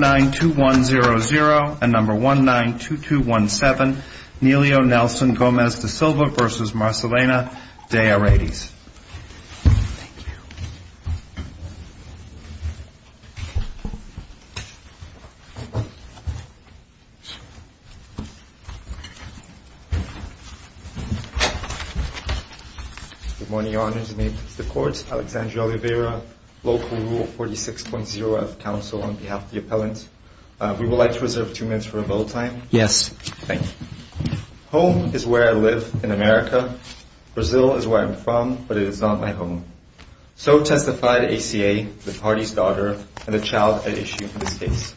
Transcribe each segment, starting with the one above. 192100 and number 192217, Emilio Nelson Gomez da Silva v. Marcellina de Aredes Thank you Good morning, Your Honors. In the name of the courts, Alexandre Oliveira, Local Rule 46.0-F Council, on behalf of the appellant. We would like to reserve two minutes for rebuttal time. Yes. Thank you. Home is where I live in America. Brazil is where I'm from, but it is not my home. So testified ACA, the party's daughter, and the child at issue in this case.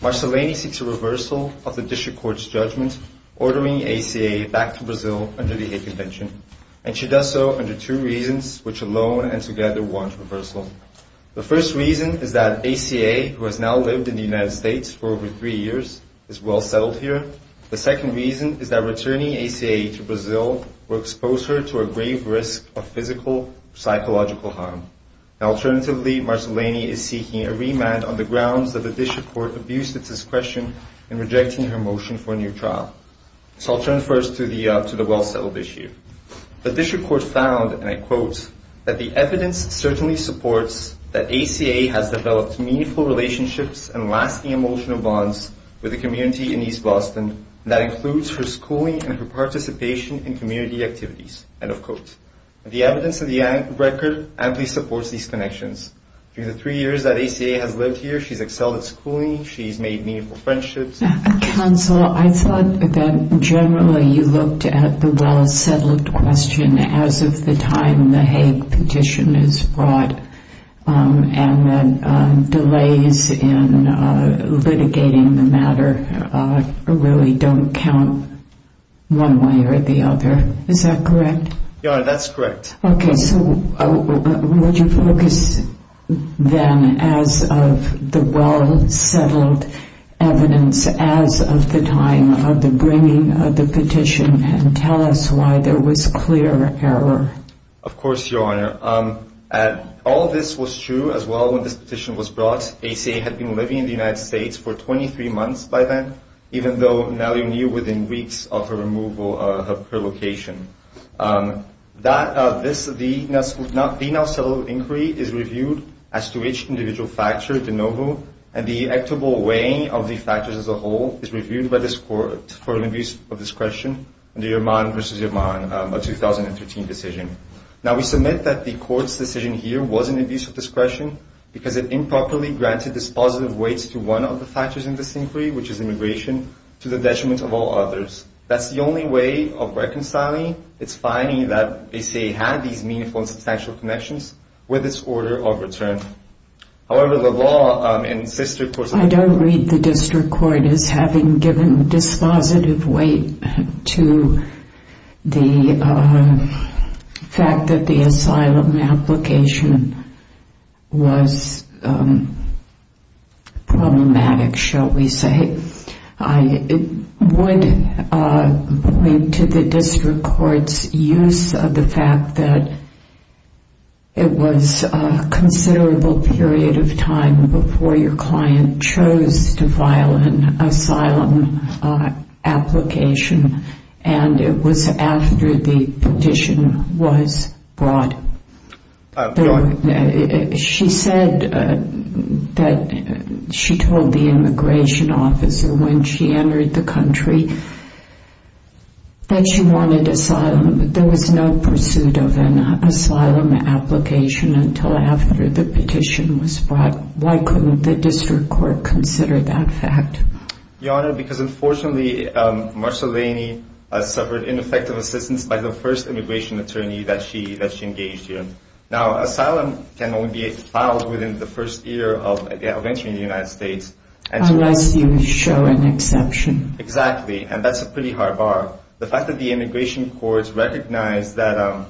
Marcellina seeks a reversal of the district court's judgment, ordering ACA back to Brazil under the hate convention. And she does so under two reasons, which alone and together warrant reversal. The first reason is that ACA, who has now lived in the United States for over three years, is well settled here. The second reason is that returning ACA to Brazil will expose her to a grave risk of physical, psychological harm. Alternatively, Marcellina is seeking a remand on the grounds that the district court abused its discretion in rejecting her motion for a new trial. So I'll turn first to the well settled issue. The district court found, and I quote, that the evidence certainly supports that ACA has developed meaningful relationships and lasting emotional bonds with the community in East Boston. That includes her schooling and her participation in community activities. End of quote. The evidence of the record amply supports these connections. Through the three years that ACA has lived here, she's excelled at schooling. She's made meaningful friendships. Counsel, I thought that generally you looked at the well settled question as of the time the Hague petition is brought and that delays in litigating the matter really don't count one way or the other. Is that correct? Your Honor, that's correct. Okay, so would you focus then as of the well settled evidence as of the time of the bringing of the petition and tell us why there was clear error? Of course, Your Honor. All of this was true as well when this petition was brought. ACA had been living in the United States for 23 months by then, even though now you knew within weeks of her removal of her location. The now settled inquiry is reviewed as to each individual factor, de novo, and the equitable weighing of the factors as a whole is reviewed by this court for an abuse of discretion, under Yerman v. Yerman, a 2013 decision. Now, we submit that the court's decision here was an abuse of discretion because it improperly granted this positive weight to one of the factors in this inquiry, which is immigration, to the detriment of all others. That's the only way of reconciling. It's finding that ACA had these meaningful and substantial connections with this order of return. However, the law insisted for some... I don't read the district court as having given this positive weight to the fact that the asylum application was problematic, shall we say. It would point to the district court's use of the fact that it was a considerable period of time before your client chose to file an asylum application, and it was after the petition was brought. She said that she told the immigration officer when she entered the country that she wanted asylum, but there was no pursuit of an asylum application until after the petition was brought. Why couldn't the district court consider that fact? Your Honor, because unfortunately, Marcellini suffered ineffective assistance by the first immigration attorney that she engaged here. Now, asylum can only be filed within the first year of entering the United States. Unless you show an exception. Exactly, and that's a pretty hard bar. The fact that the immigration courts recognized that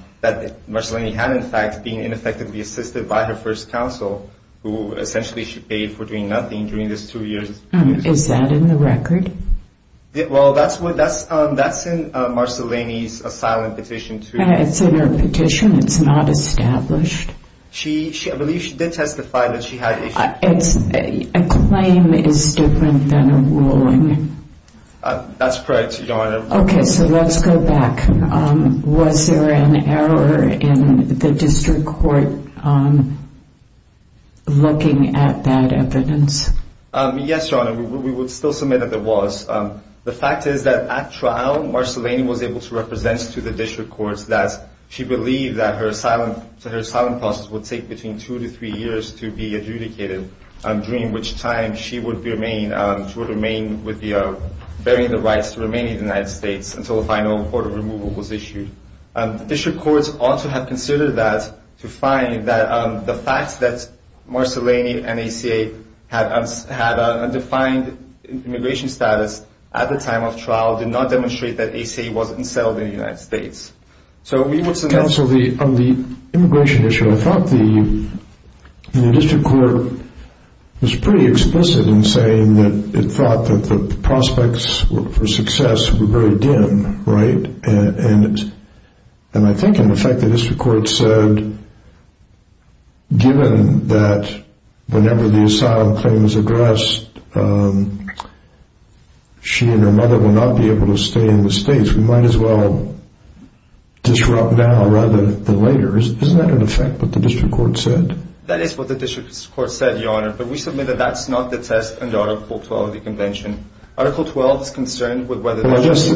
Marcellini had, in fact, been ineffectively assisted by her first counsel, who essentially she paid for doing nothing during these two years. Is that in the record? Well, that's in Marcellini's asylum petition, too. It's in her petition? It's not established? I believe she did testify that she had... A claim is different than a ruling. That's correct, Your Honor. Okay, so let's go back. Was there an error in the district court looking at that evidence? Yes, Your Honor, we would still submit that there was. The fact is that at trial, Marcellini was able to represent to the district courts that she believed that her asylum process would take between two to three years to be adjudicated, during which time she would remain with the... before removal was issued. District courts also have considered that to find that the fact that Marcellini and ACA had undefined immigration status at the time of trial did not demonstrate that ACA wasn't settled in the United States. So we would... Counsel, on the immigration issue, I thought the district court was pretty explicit in saying that it thought that the prospects for success were very dim, right? And I think, in effect, the district court said, given that whenever the asylum claim is addressed, she and her mother will not be able to stay in the States, we might as well disrupt now rather than later. Isn't that in effect what the district court said? That is what the district court said, Your Honor, but we submit that that's not the test under Article 12 of the Convention. Article 12 is concerned with whether... Well, I guess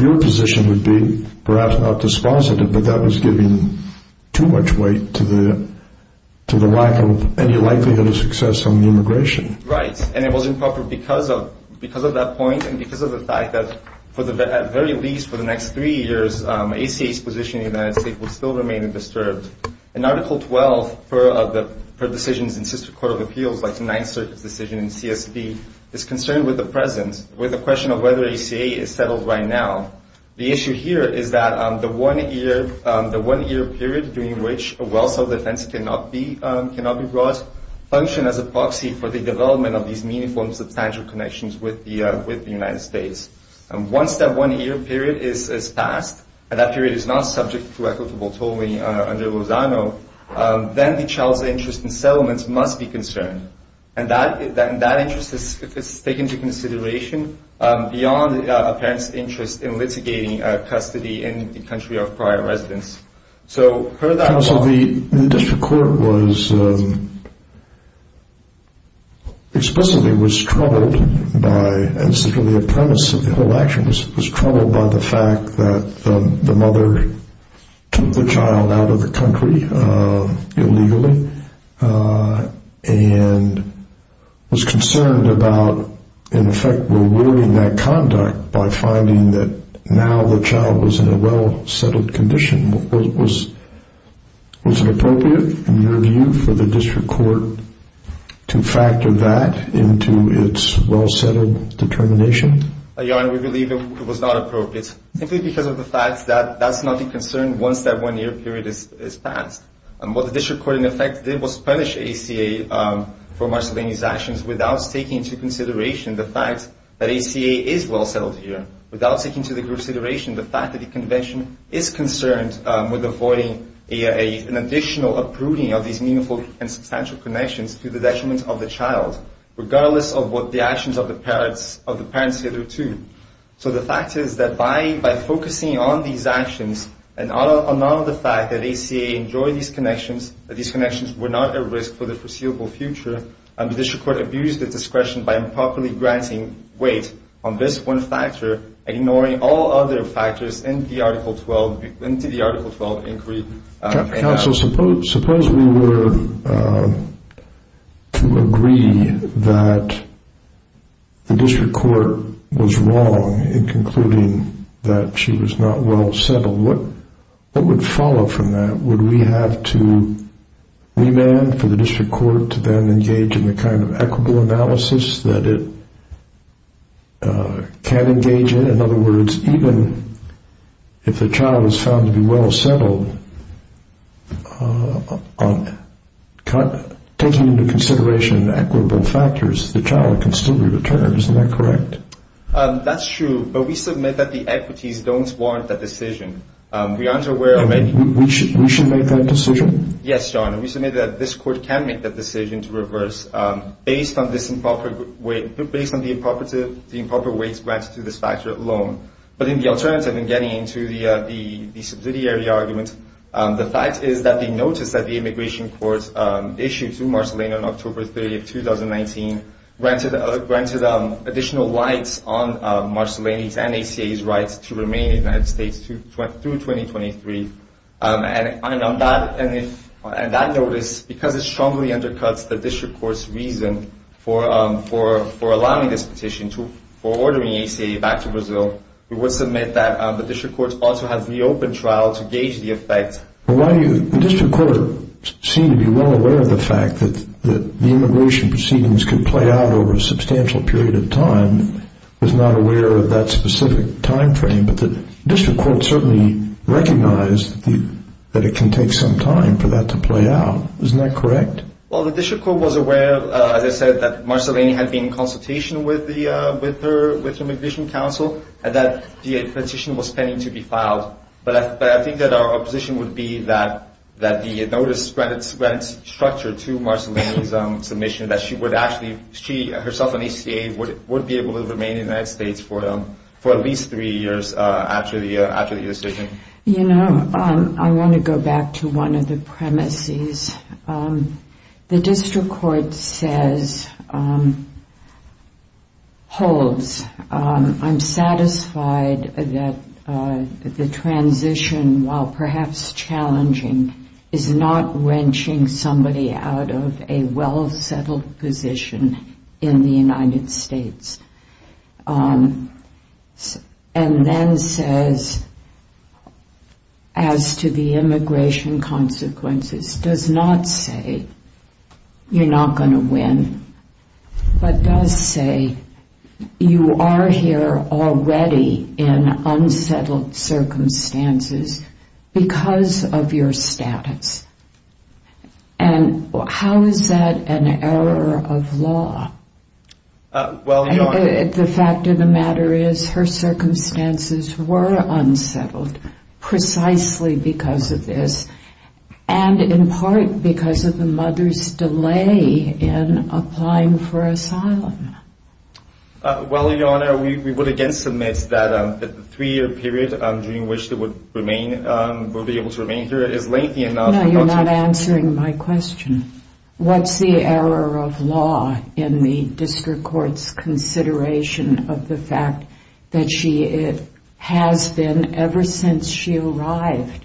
your position would be, perhaps not dispositive, but that was giving too much weight to the lack of any likelihood of success on the immigration. Right, and it was improper because of that point and because of the fact that, at the very least, for the next three years, ACA's position in the United States would still remain undisturbed. And Article 12, per decisions in the District Court of Appeals, like the Ninth Circuit's decision in CSB, is concerned with the present, with the question of whether ACA is settled right now. The issue here is that the one-year period during which a well-served defense cannot be brought functions as a proxy for the development of these meaningful and substantial connections with the United States. Once that one-year period is passed, and that period is not subject to equitable tolling under Lozano, then the child's interest in settlements must be concerned. And that interest is taken into consideration beyond a parent's interest in litigating custody in the country of prior residence. So, per the... Counsel, the District Court was... explicitly was troubled by... the mother took the child out of the country illegally and was concerned about, in effect, rewiring that conduct by finding that now the child was in a well-settled condition. Was it appropriate, in your view, for the District Court to factor that into its well-settled determination? Your Honor, we believe it was not appropriate simply because of the fact that that's not a concern once that one-year period is passed. What the District Court, in effect, did was punish ACA for Marcellini's actions without taking into consideration the fact that ACA is well-settled here, without taking into consideration the fact that the Convention is concerned with avoiding an additional uprooting of these meaningful and substantial connections to the detriment of the child, regardless of what the actions of the parents here do, too. So, the fact is that by focusing on these actions and on the fact that ACA enjoyed these connections, that these connections were not a risk for the foreseeable future, the District Court abused its discretion by improperly granting weight on this one factor and ignoring all other factors in the Article 12, into the Article 12 inquiry. Counsel, suppose we were to agree that the District Court was wrong in concluding that she was not well-settled. What would follow from that? Would we have to remand for the District Court to then engage in the kind of equitable analysis that it can engage in? In other words, even if the child is found to be well-settled, taking into consideration equitable factors, the child can still be returned. Isn't that correct? That's true, but we submit that the equities don't warrant that decision. We aren't aware of any... We should make that decision? Yes, John. We submit that this Court can make that decision to reverse, based on the improper weights granted to this factor alone, but in the alternative, in getting into the subsidiary argument, the fact is that the notice that the Immigration Court issued to Marcellino on October 30, 2019, granted additional lights on Marcellino's and ACA's rights to remain in the United States through 2023, and that notice, because it strongly undercuts the District Court's reason for allowing this petition, for ordering ACA back to Brazil. We would submit that the District Court also has the open trial to gauge the effect. The District Court seemed to be well aware of the fact that the immigration proceedings could play out over a substantial period of time. It was not aware of that specific time frame, but the District Court certainly recognized that it can take some time for that to play out. Isn't that correct? Well, the District Court was aware, as I said, that Marcellino had been in consultation with the Immigration Council, and that the petition was pending to be filed. But I think that our position would be that the notice granted structure to Marcellino's submission, that she herself and ACA would be able to remain in the United States for at least three years after the decision. You know, I want to go back to one of the premises. The District Court says, holds. I'm satisfied that the transition, while perhaps challenging, is not wrenching somebody out of a well-settled position in the United States. And then says, as to the immigration consequences, does not say you're not going to win, but does say you are here already in unsettled circumstances because of your status. And how is that an error of law? The fact of the matter is, her circumstances were unsettled precisely because of this, and in part because of the mother's delay in applying for asylum. Well, Your Honor, we would again submit that the three-year period during which they would be able to remain here is lengthy enough. No, you're not answering my question. What's the error of law in the District Court's consideration of the fact that she has been, ever since she arrived,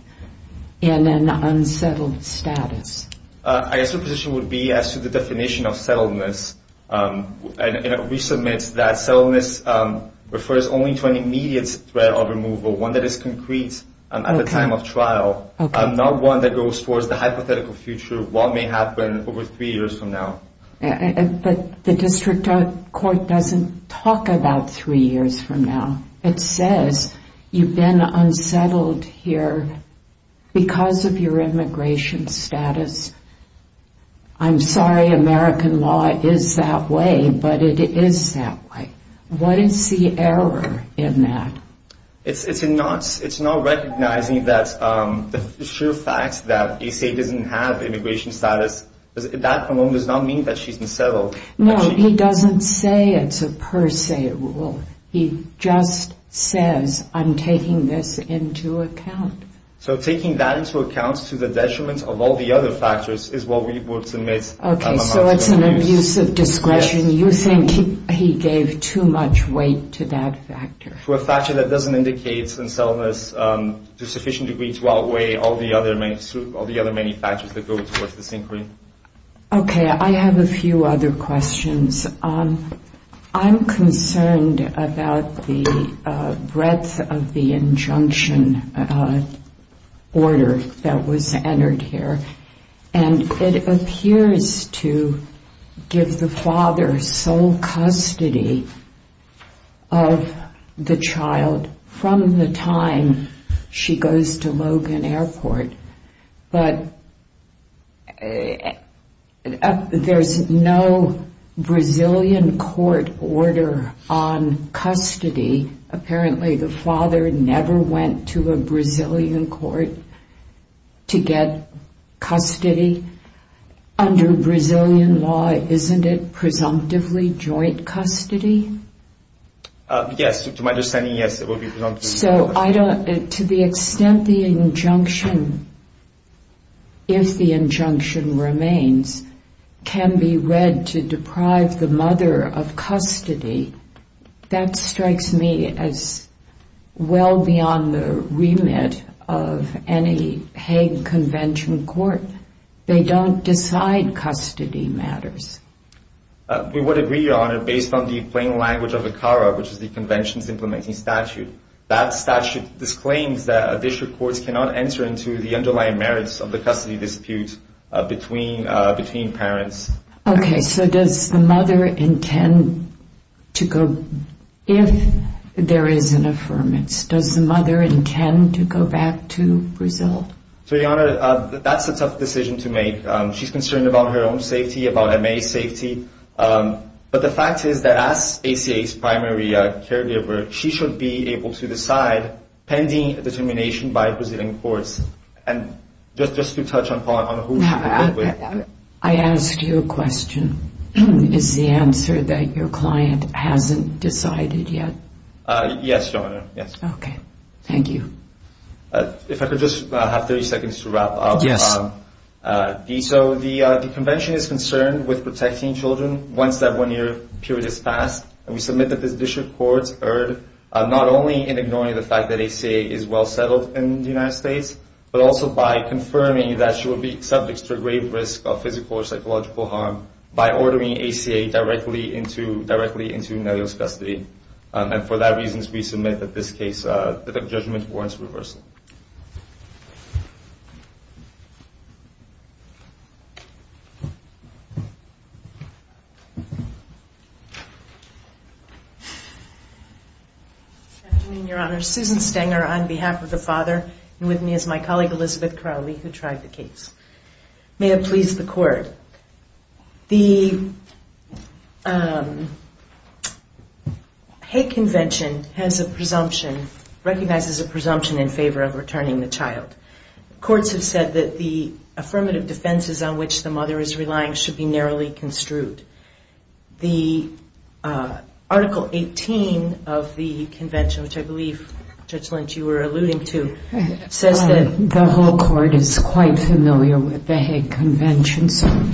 in an unsettled status? I guess her position would be as to the definition of settledness. And we submit that settledness refers only to an immediate threat of removal, one that is concrete at the time of trial, not one that goes towards the hypothetical future of what may happen over three years from now. But the District Court doesn't talk about three years from now. It says you've been unsettled here because of your immigration status. I'm sorry, American law is that way, but it is that way. What is the error in that? It's not recognizing that the sheer fact that A.C.A. doesn't have immigration status, that alone does not mean that she's unsettled. No, he doesn't say it's a per se rule. He just says, I'm taking this into account. So taking that into account to the detriment of all the other factors is what we would submit. Okay, so it's an abuse of discretion. You think he gave too much weight to that factor. To a factor that doesn't indicate unsettledness to a sufficient degree to outweigh all the other many factors that go towards this inquiry. Okay, I have a few other questions. I'm concerned about the breadth of the injunction order that was entered here. And it appears to give the father sole custody of the child from the time she goes to Logan Airport. But there's no Brazilian court order on custody. Apparently the father never went to a Brazilian court to get custody. Under Brazilian law, isn't it presumptively joint custody? Yes, to my understanding, yes, it would be presumptively joint custody. To the extent the injunction, if the injunction remains, can be read to deprive the mother of custody, that strikes me as well beyond the remit of any Hague Convention court. They don't decide custody matters. We would agree, Your Honor, based on the plain language of ACARA, which is the Convention's Implementing Statute. That statute disclaims that judicial courts cannot enter into the underlying merits of the custody dispute between parents. Okay, so does the mother intend to go, if there is an affirmance, does the mother intend to go back to Brazil? So, Your Honor, that's a tough decision to make. She's concerned about her own safety, about M.A. safety. But the fact is that as ACA's primary caregiver, she should be able to decide pending determination by Brazilian courts. And just to touch upon who she would go with. I ask you a question. Is the answer that your client hasn't decided yet? Yes, Your Honor, yes. Okay, thank you. If I could just have 30 seconds to wrap up. Yes. So the Convention is concerned with protecting children once that one-year period has passed. And we submit that this judicial court erred not only in ignoring the fact that ACA is well settled in the United States, but also by confirming that she would be subject to a grave risk of physical or psychological harm by ordering ACA directly into Nelio's custody. And for that reason, we submit that this case, that the judgment warrants reversal. Good afternoon, Your Honor. Susan Stenger on behalf of the father, and with me is my colleague, Elizabeth Crowley, who tried the case. May it please the court. The Hague Convention has a presumption, recognizes a presumption in favor of returning the child. Courts have said that the affirmative defenses on which the mother is relying should be narrowly construed. The Article 18 of the Convention, which I believe, Judge Lynch, you were alluding to, says that...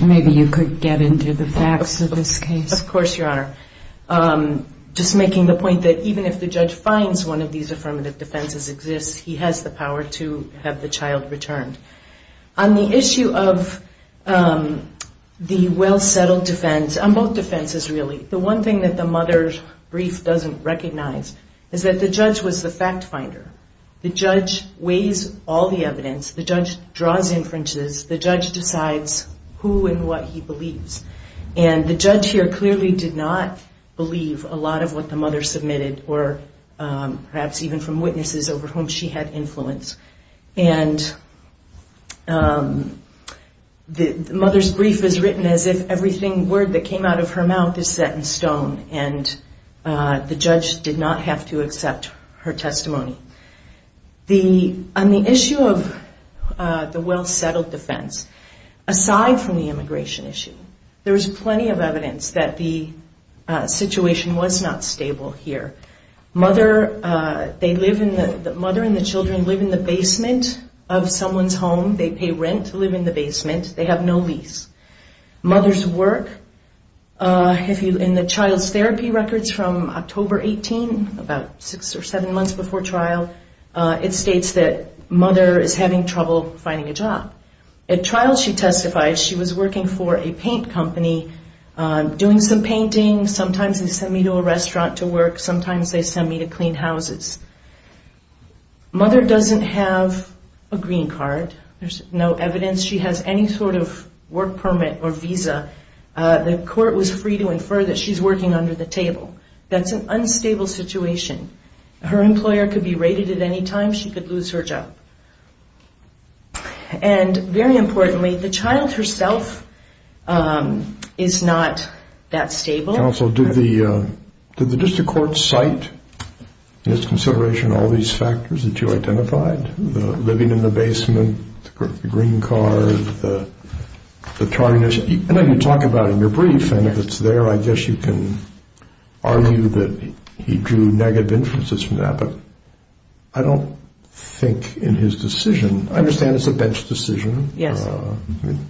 Maybe you could get into the facts of this case. Of course, Your Honor. Just making the point that even if the judge finds one of these affirmative defenses exists, he has the power to have the child returned. On the issue of the well-settled defense, on both defenses really, the one thing that the mother's brief doesn't recognize is that the judge was the fact finder. The judge weighs all the evidence. The judge draws inferences. The judge decides who and what he believes. And the judge here clearly did not believe a lot of what the mother submitted, or perhaps even from witnesses over whom she had influence. And the mother's brief is written as if everything word that came out of her mouth is set in stone, and the judge did not have to accept her testimony. On the issue of the well-settled defense, aside from the immigration issue, there is plenty of evidence that the situation was not stable here. The mother and the children live in the basement of someone's home. They pay rent to live in the basement. They have no lease. Mother's work, in the child's therapy records from October 18, about six or seven months before trial, it states that mother is having trouble finding a job. At trial she testified she was working for a paint company, doing some painting. Sometimes they send me to a restaurant to work. Sometimes they send me to clean houses. Mother doesn't have a green card. There's no evidence. She has any sort of work permit or visa. The court was free to infer that she's working under the table. That's an unstable situation. Her employer could be raided at any time. She could lose her job. And very importantly, the child herself is not that stable. Counsel, did the district court cite in its consideration all these factors that you identified? The living in the basement, the green card, the tardiness? I know you talk about it in your brief, and if it's there, I guess you can argue that he drew negative inferences from that. But I don't think in his decision, I understand it's a bench decision. Yes.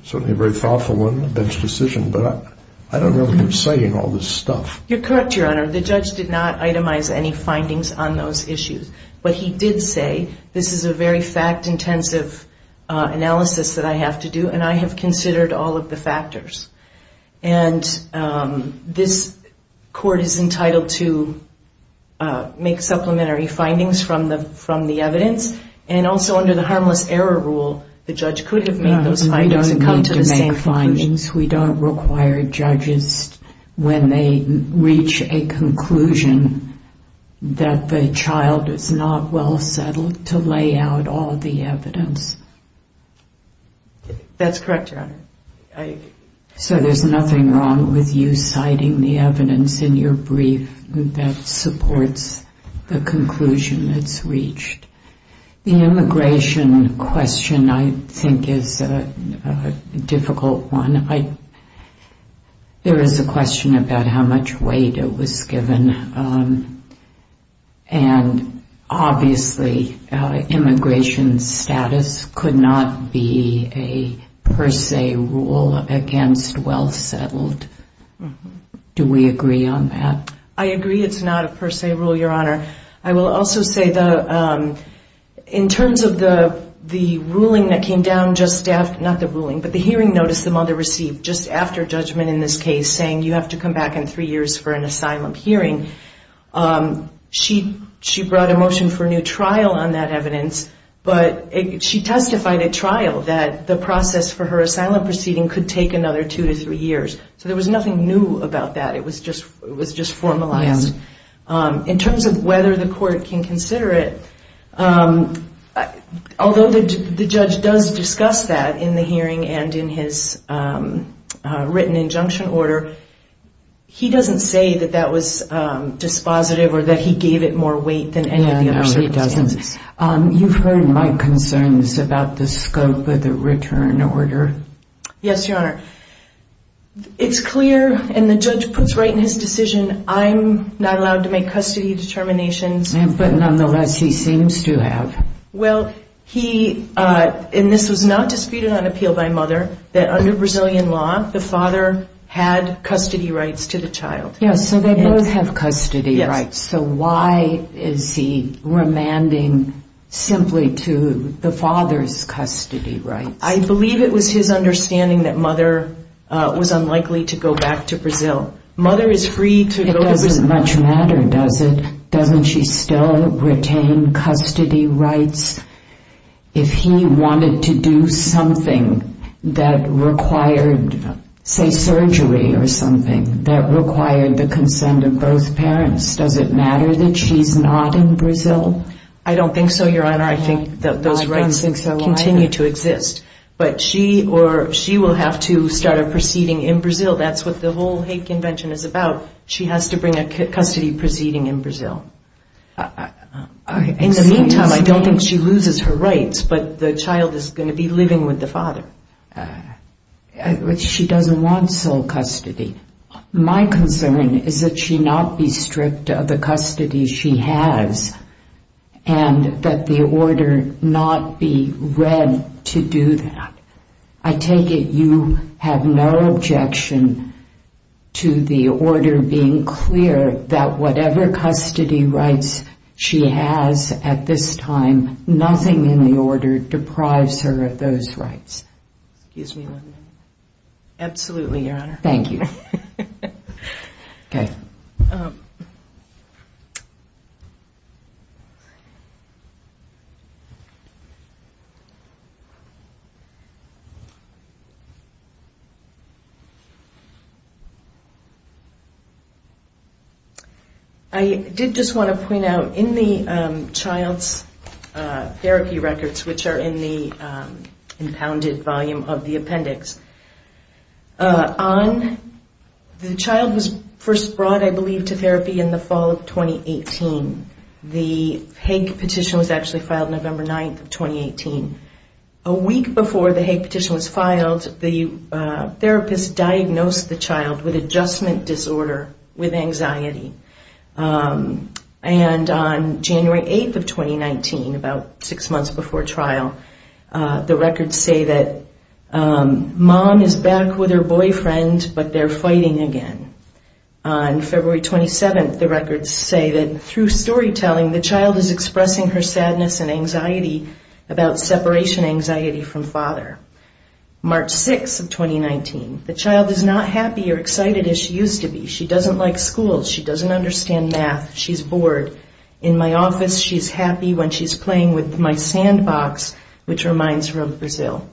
Certainly a very thoughtful one, a bench decision. But I don't remember him citing all this stuff. You're correct, Your Honor. The judge did not itemize any findings on those issues. But he did say, this is a very fact-intensive analysis that I have to do, and I have considered all of the factors. And this court is entitled to make supplementary findings from the evidence. And also under the harmless error rule, the judge could have made those findings and come to the same conclusion. That means we don't require judges, when they reach a conclusion, that the child is not well settled to lay out all the evidence? That's correct, Your Honor. So there's nothing wrong with you citing the evidence in your brief that supports the conclusion that's reached. The immigration question, I think, is a difficult one. There is a question about how much weight it was given. And obviously, immigration status could not be a per se rule against well settled. Do we agree on that? I agree it's not a per se rule, Your Honor. I will also say, in terms of the hearing notice the mother received, just after judgment in this case, saying you have to come back in three years for an asylum hearing, she brought a motion for a new trial on that evidence. But she testified at trial that the process for her asylum proceeding could take another two to three years. So there was nothing new about that. It was just formalized. In terms of whether the court can consider it, although the judge does discuss that in the hearing and in his written injunction order, he doesn't say that that was dispositive or that he gave it more weight than any of the other circumstances. No, he doesn't. You've heard my concerns about the scope of the return order. Yes, Your Honor. It's clear, and the judge puts right in his decision, I'm not allowed to make custody determinations. But nonetheless, he seems to have. Well, he, and this was not disputed on appeal by mother, that under Brazilian law, the father had custody rights to the child. Yes, so they both have custody rights. Yes. So why is he remanding simply to the father's custody rights? I believe it was his understanding that mother was unlikely to go back to Brazil. Mother is free to go to Brazil. It doesn't much matter, does it? Doesn't she still retain custody rights if he wanted to do something that required, say, surgery or something, that required the consent of both parents? Does it matter that she's not in Brazil? I don't think so, Your Honor. I think those rights continue to exist. But she or she will have to start a proceeding in Brazil. That's what the whole hate convention is about. She has to bring a custody proceeding in Brazil. In the meantime, I don't think she loses her rights, but the child is going to be living with the father. She doesn't want sole custody. My concern is that she not be stripped of the custody she has and that the order not be read to do that. I take it you have no objection to the order being clear that whatever custody rights she has at this time, nothing in the order deprives her of those rights? Excuse me one minute. Absolutely, Your Honor. Thank you. I did just want to point out in the child's therapy records, which are in the impounded volume of the appendix, the child was first brought, I believe, to therapy in the fall of 2018. The Hague petition was actually filed November 9th of 2018. A week before the Hague petition was filed, the therapist diagnosed the child with adjustment disorder, with anxiety. And on January 8th of 2019, about six months before trial, the records say that mom is back with her boyfriend, but they're fighting again. On February 27th, the records say that through storytelling, the child is expressing her sadness and anxiety about separation anxiety from father. March 6th of 2019, the child is not happy or excited as she used to be. She doesn't like school. She doesn't understand math. She's bored. In my office, she's happy when she's playing with my sandbox, which reminds her of Brazil.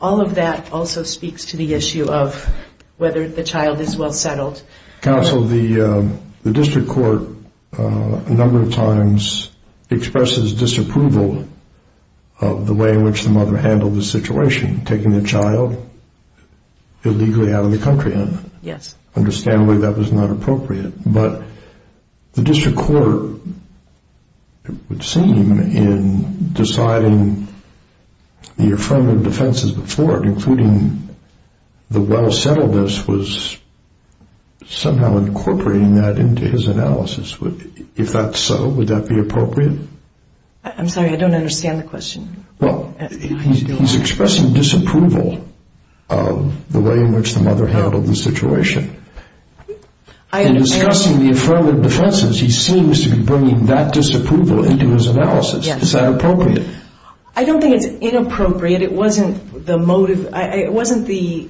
All of that also speaks to the issue of whether the child is well settled. Counsel, the district court a number of times expresses disapproval of the way in which the mother handled the situation, taking the child illegally out of the country. Yes. Understandably, that was not appropriate. But the district court, it would seem, in deciding the affirmative defenses before it, including the well-settledness, was somehow incorporating that into his analysis. If that's so, would that be appropriate? I'm sorry, I don't understand the question. Well, he's expressing disapproval of the way in which the mother handled the situation. In discussing the affirmative defenses, he seems to be bringing that disapproval into his analysis. Is that appropriate? I don't think it's inappropriate. It wasn't the motive. It wasn't the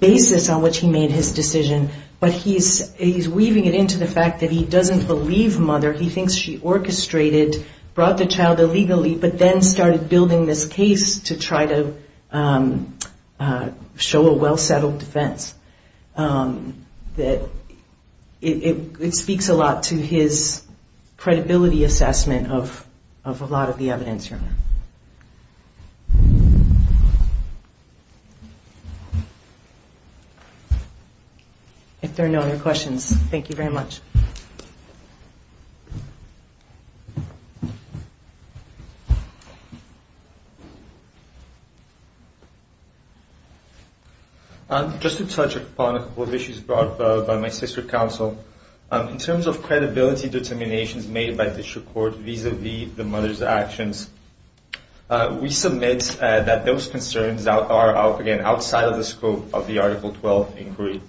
basis on which he made his decision. But he's weaving it into the fact that he doesn't believe mother. He thinks she orchestrated, brought the child illegally, but then started building this case to try to show a well-settled defense. It speaks a lot to his credibility assessment of a lot of the evidence here. If there are no other questions, thank you very much. Just to touch upon a couple of issues brought up by my sister counsel. In terms of credibility determinations made by district court vis-à-vis the mother's actions, we submit that those concerns are, again, outside of the scope of the Article 12 inquiry.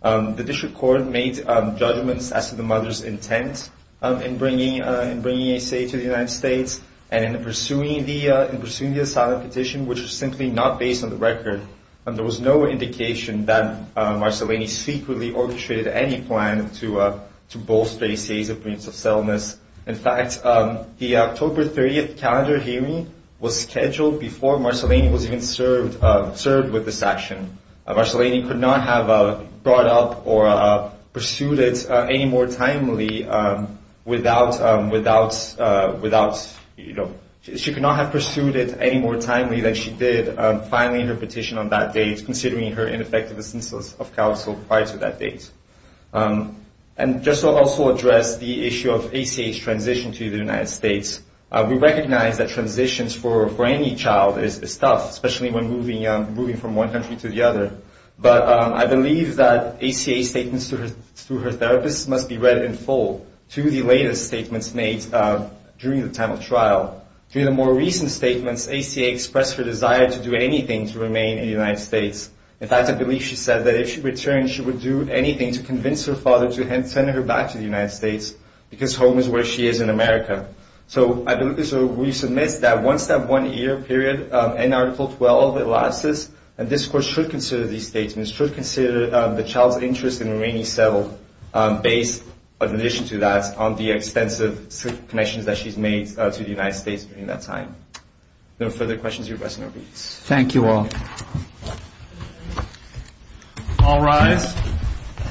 The district court made judgments as to the mother's intent in bringing ACA to the United States and in pursuing the asylum petition, which was simply not based on the record. There was no indication that Marcellini secretly orchestrated any plan to bolster ACA's appearance of settleness. In fact, the October 30th calendar hearing was scheduled before Marcellini was even served with this action. Marcellini could not have brought up or pursued it any more timely without, you know, she could not have pursued it any more timely than she did filing her petition on that date, considering her ineffectiveness of counsel prior to that date. And just to also address the issue of ACA's transition to the United States, we recognize that transitions for any child is tough, especially when moving from one country to the other. But I believe that ACA's statements to her therapist must be read in full to the latest statements made during the time of trial. During the more recent statements, ACA expressed her desire to do anything to remain in the United States. In fact, I believe she said that if she returned, she would do anything to convince her father to send her back to the United States, because home is where she is in America. So we submit that once that one-year period in Article 12 elapses, and this Court should consider these statements, should consider the child's interest in remaining settled based, in addition to that, on the extensive connections that she's made to the United States during that time. If there are further questions, you're best not to. Thank you all. All rise.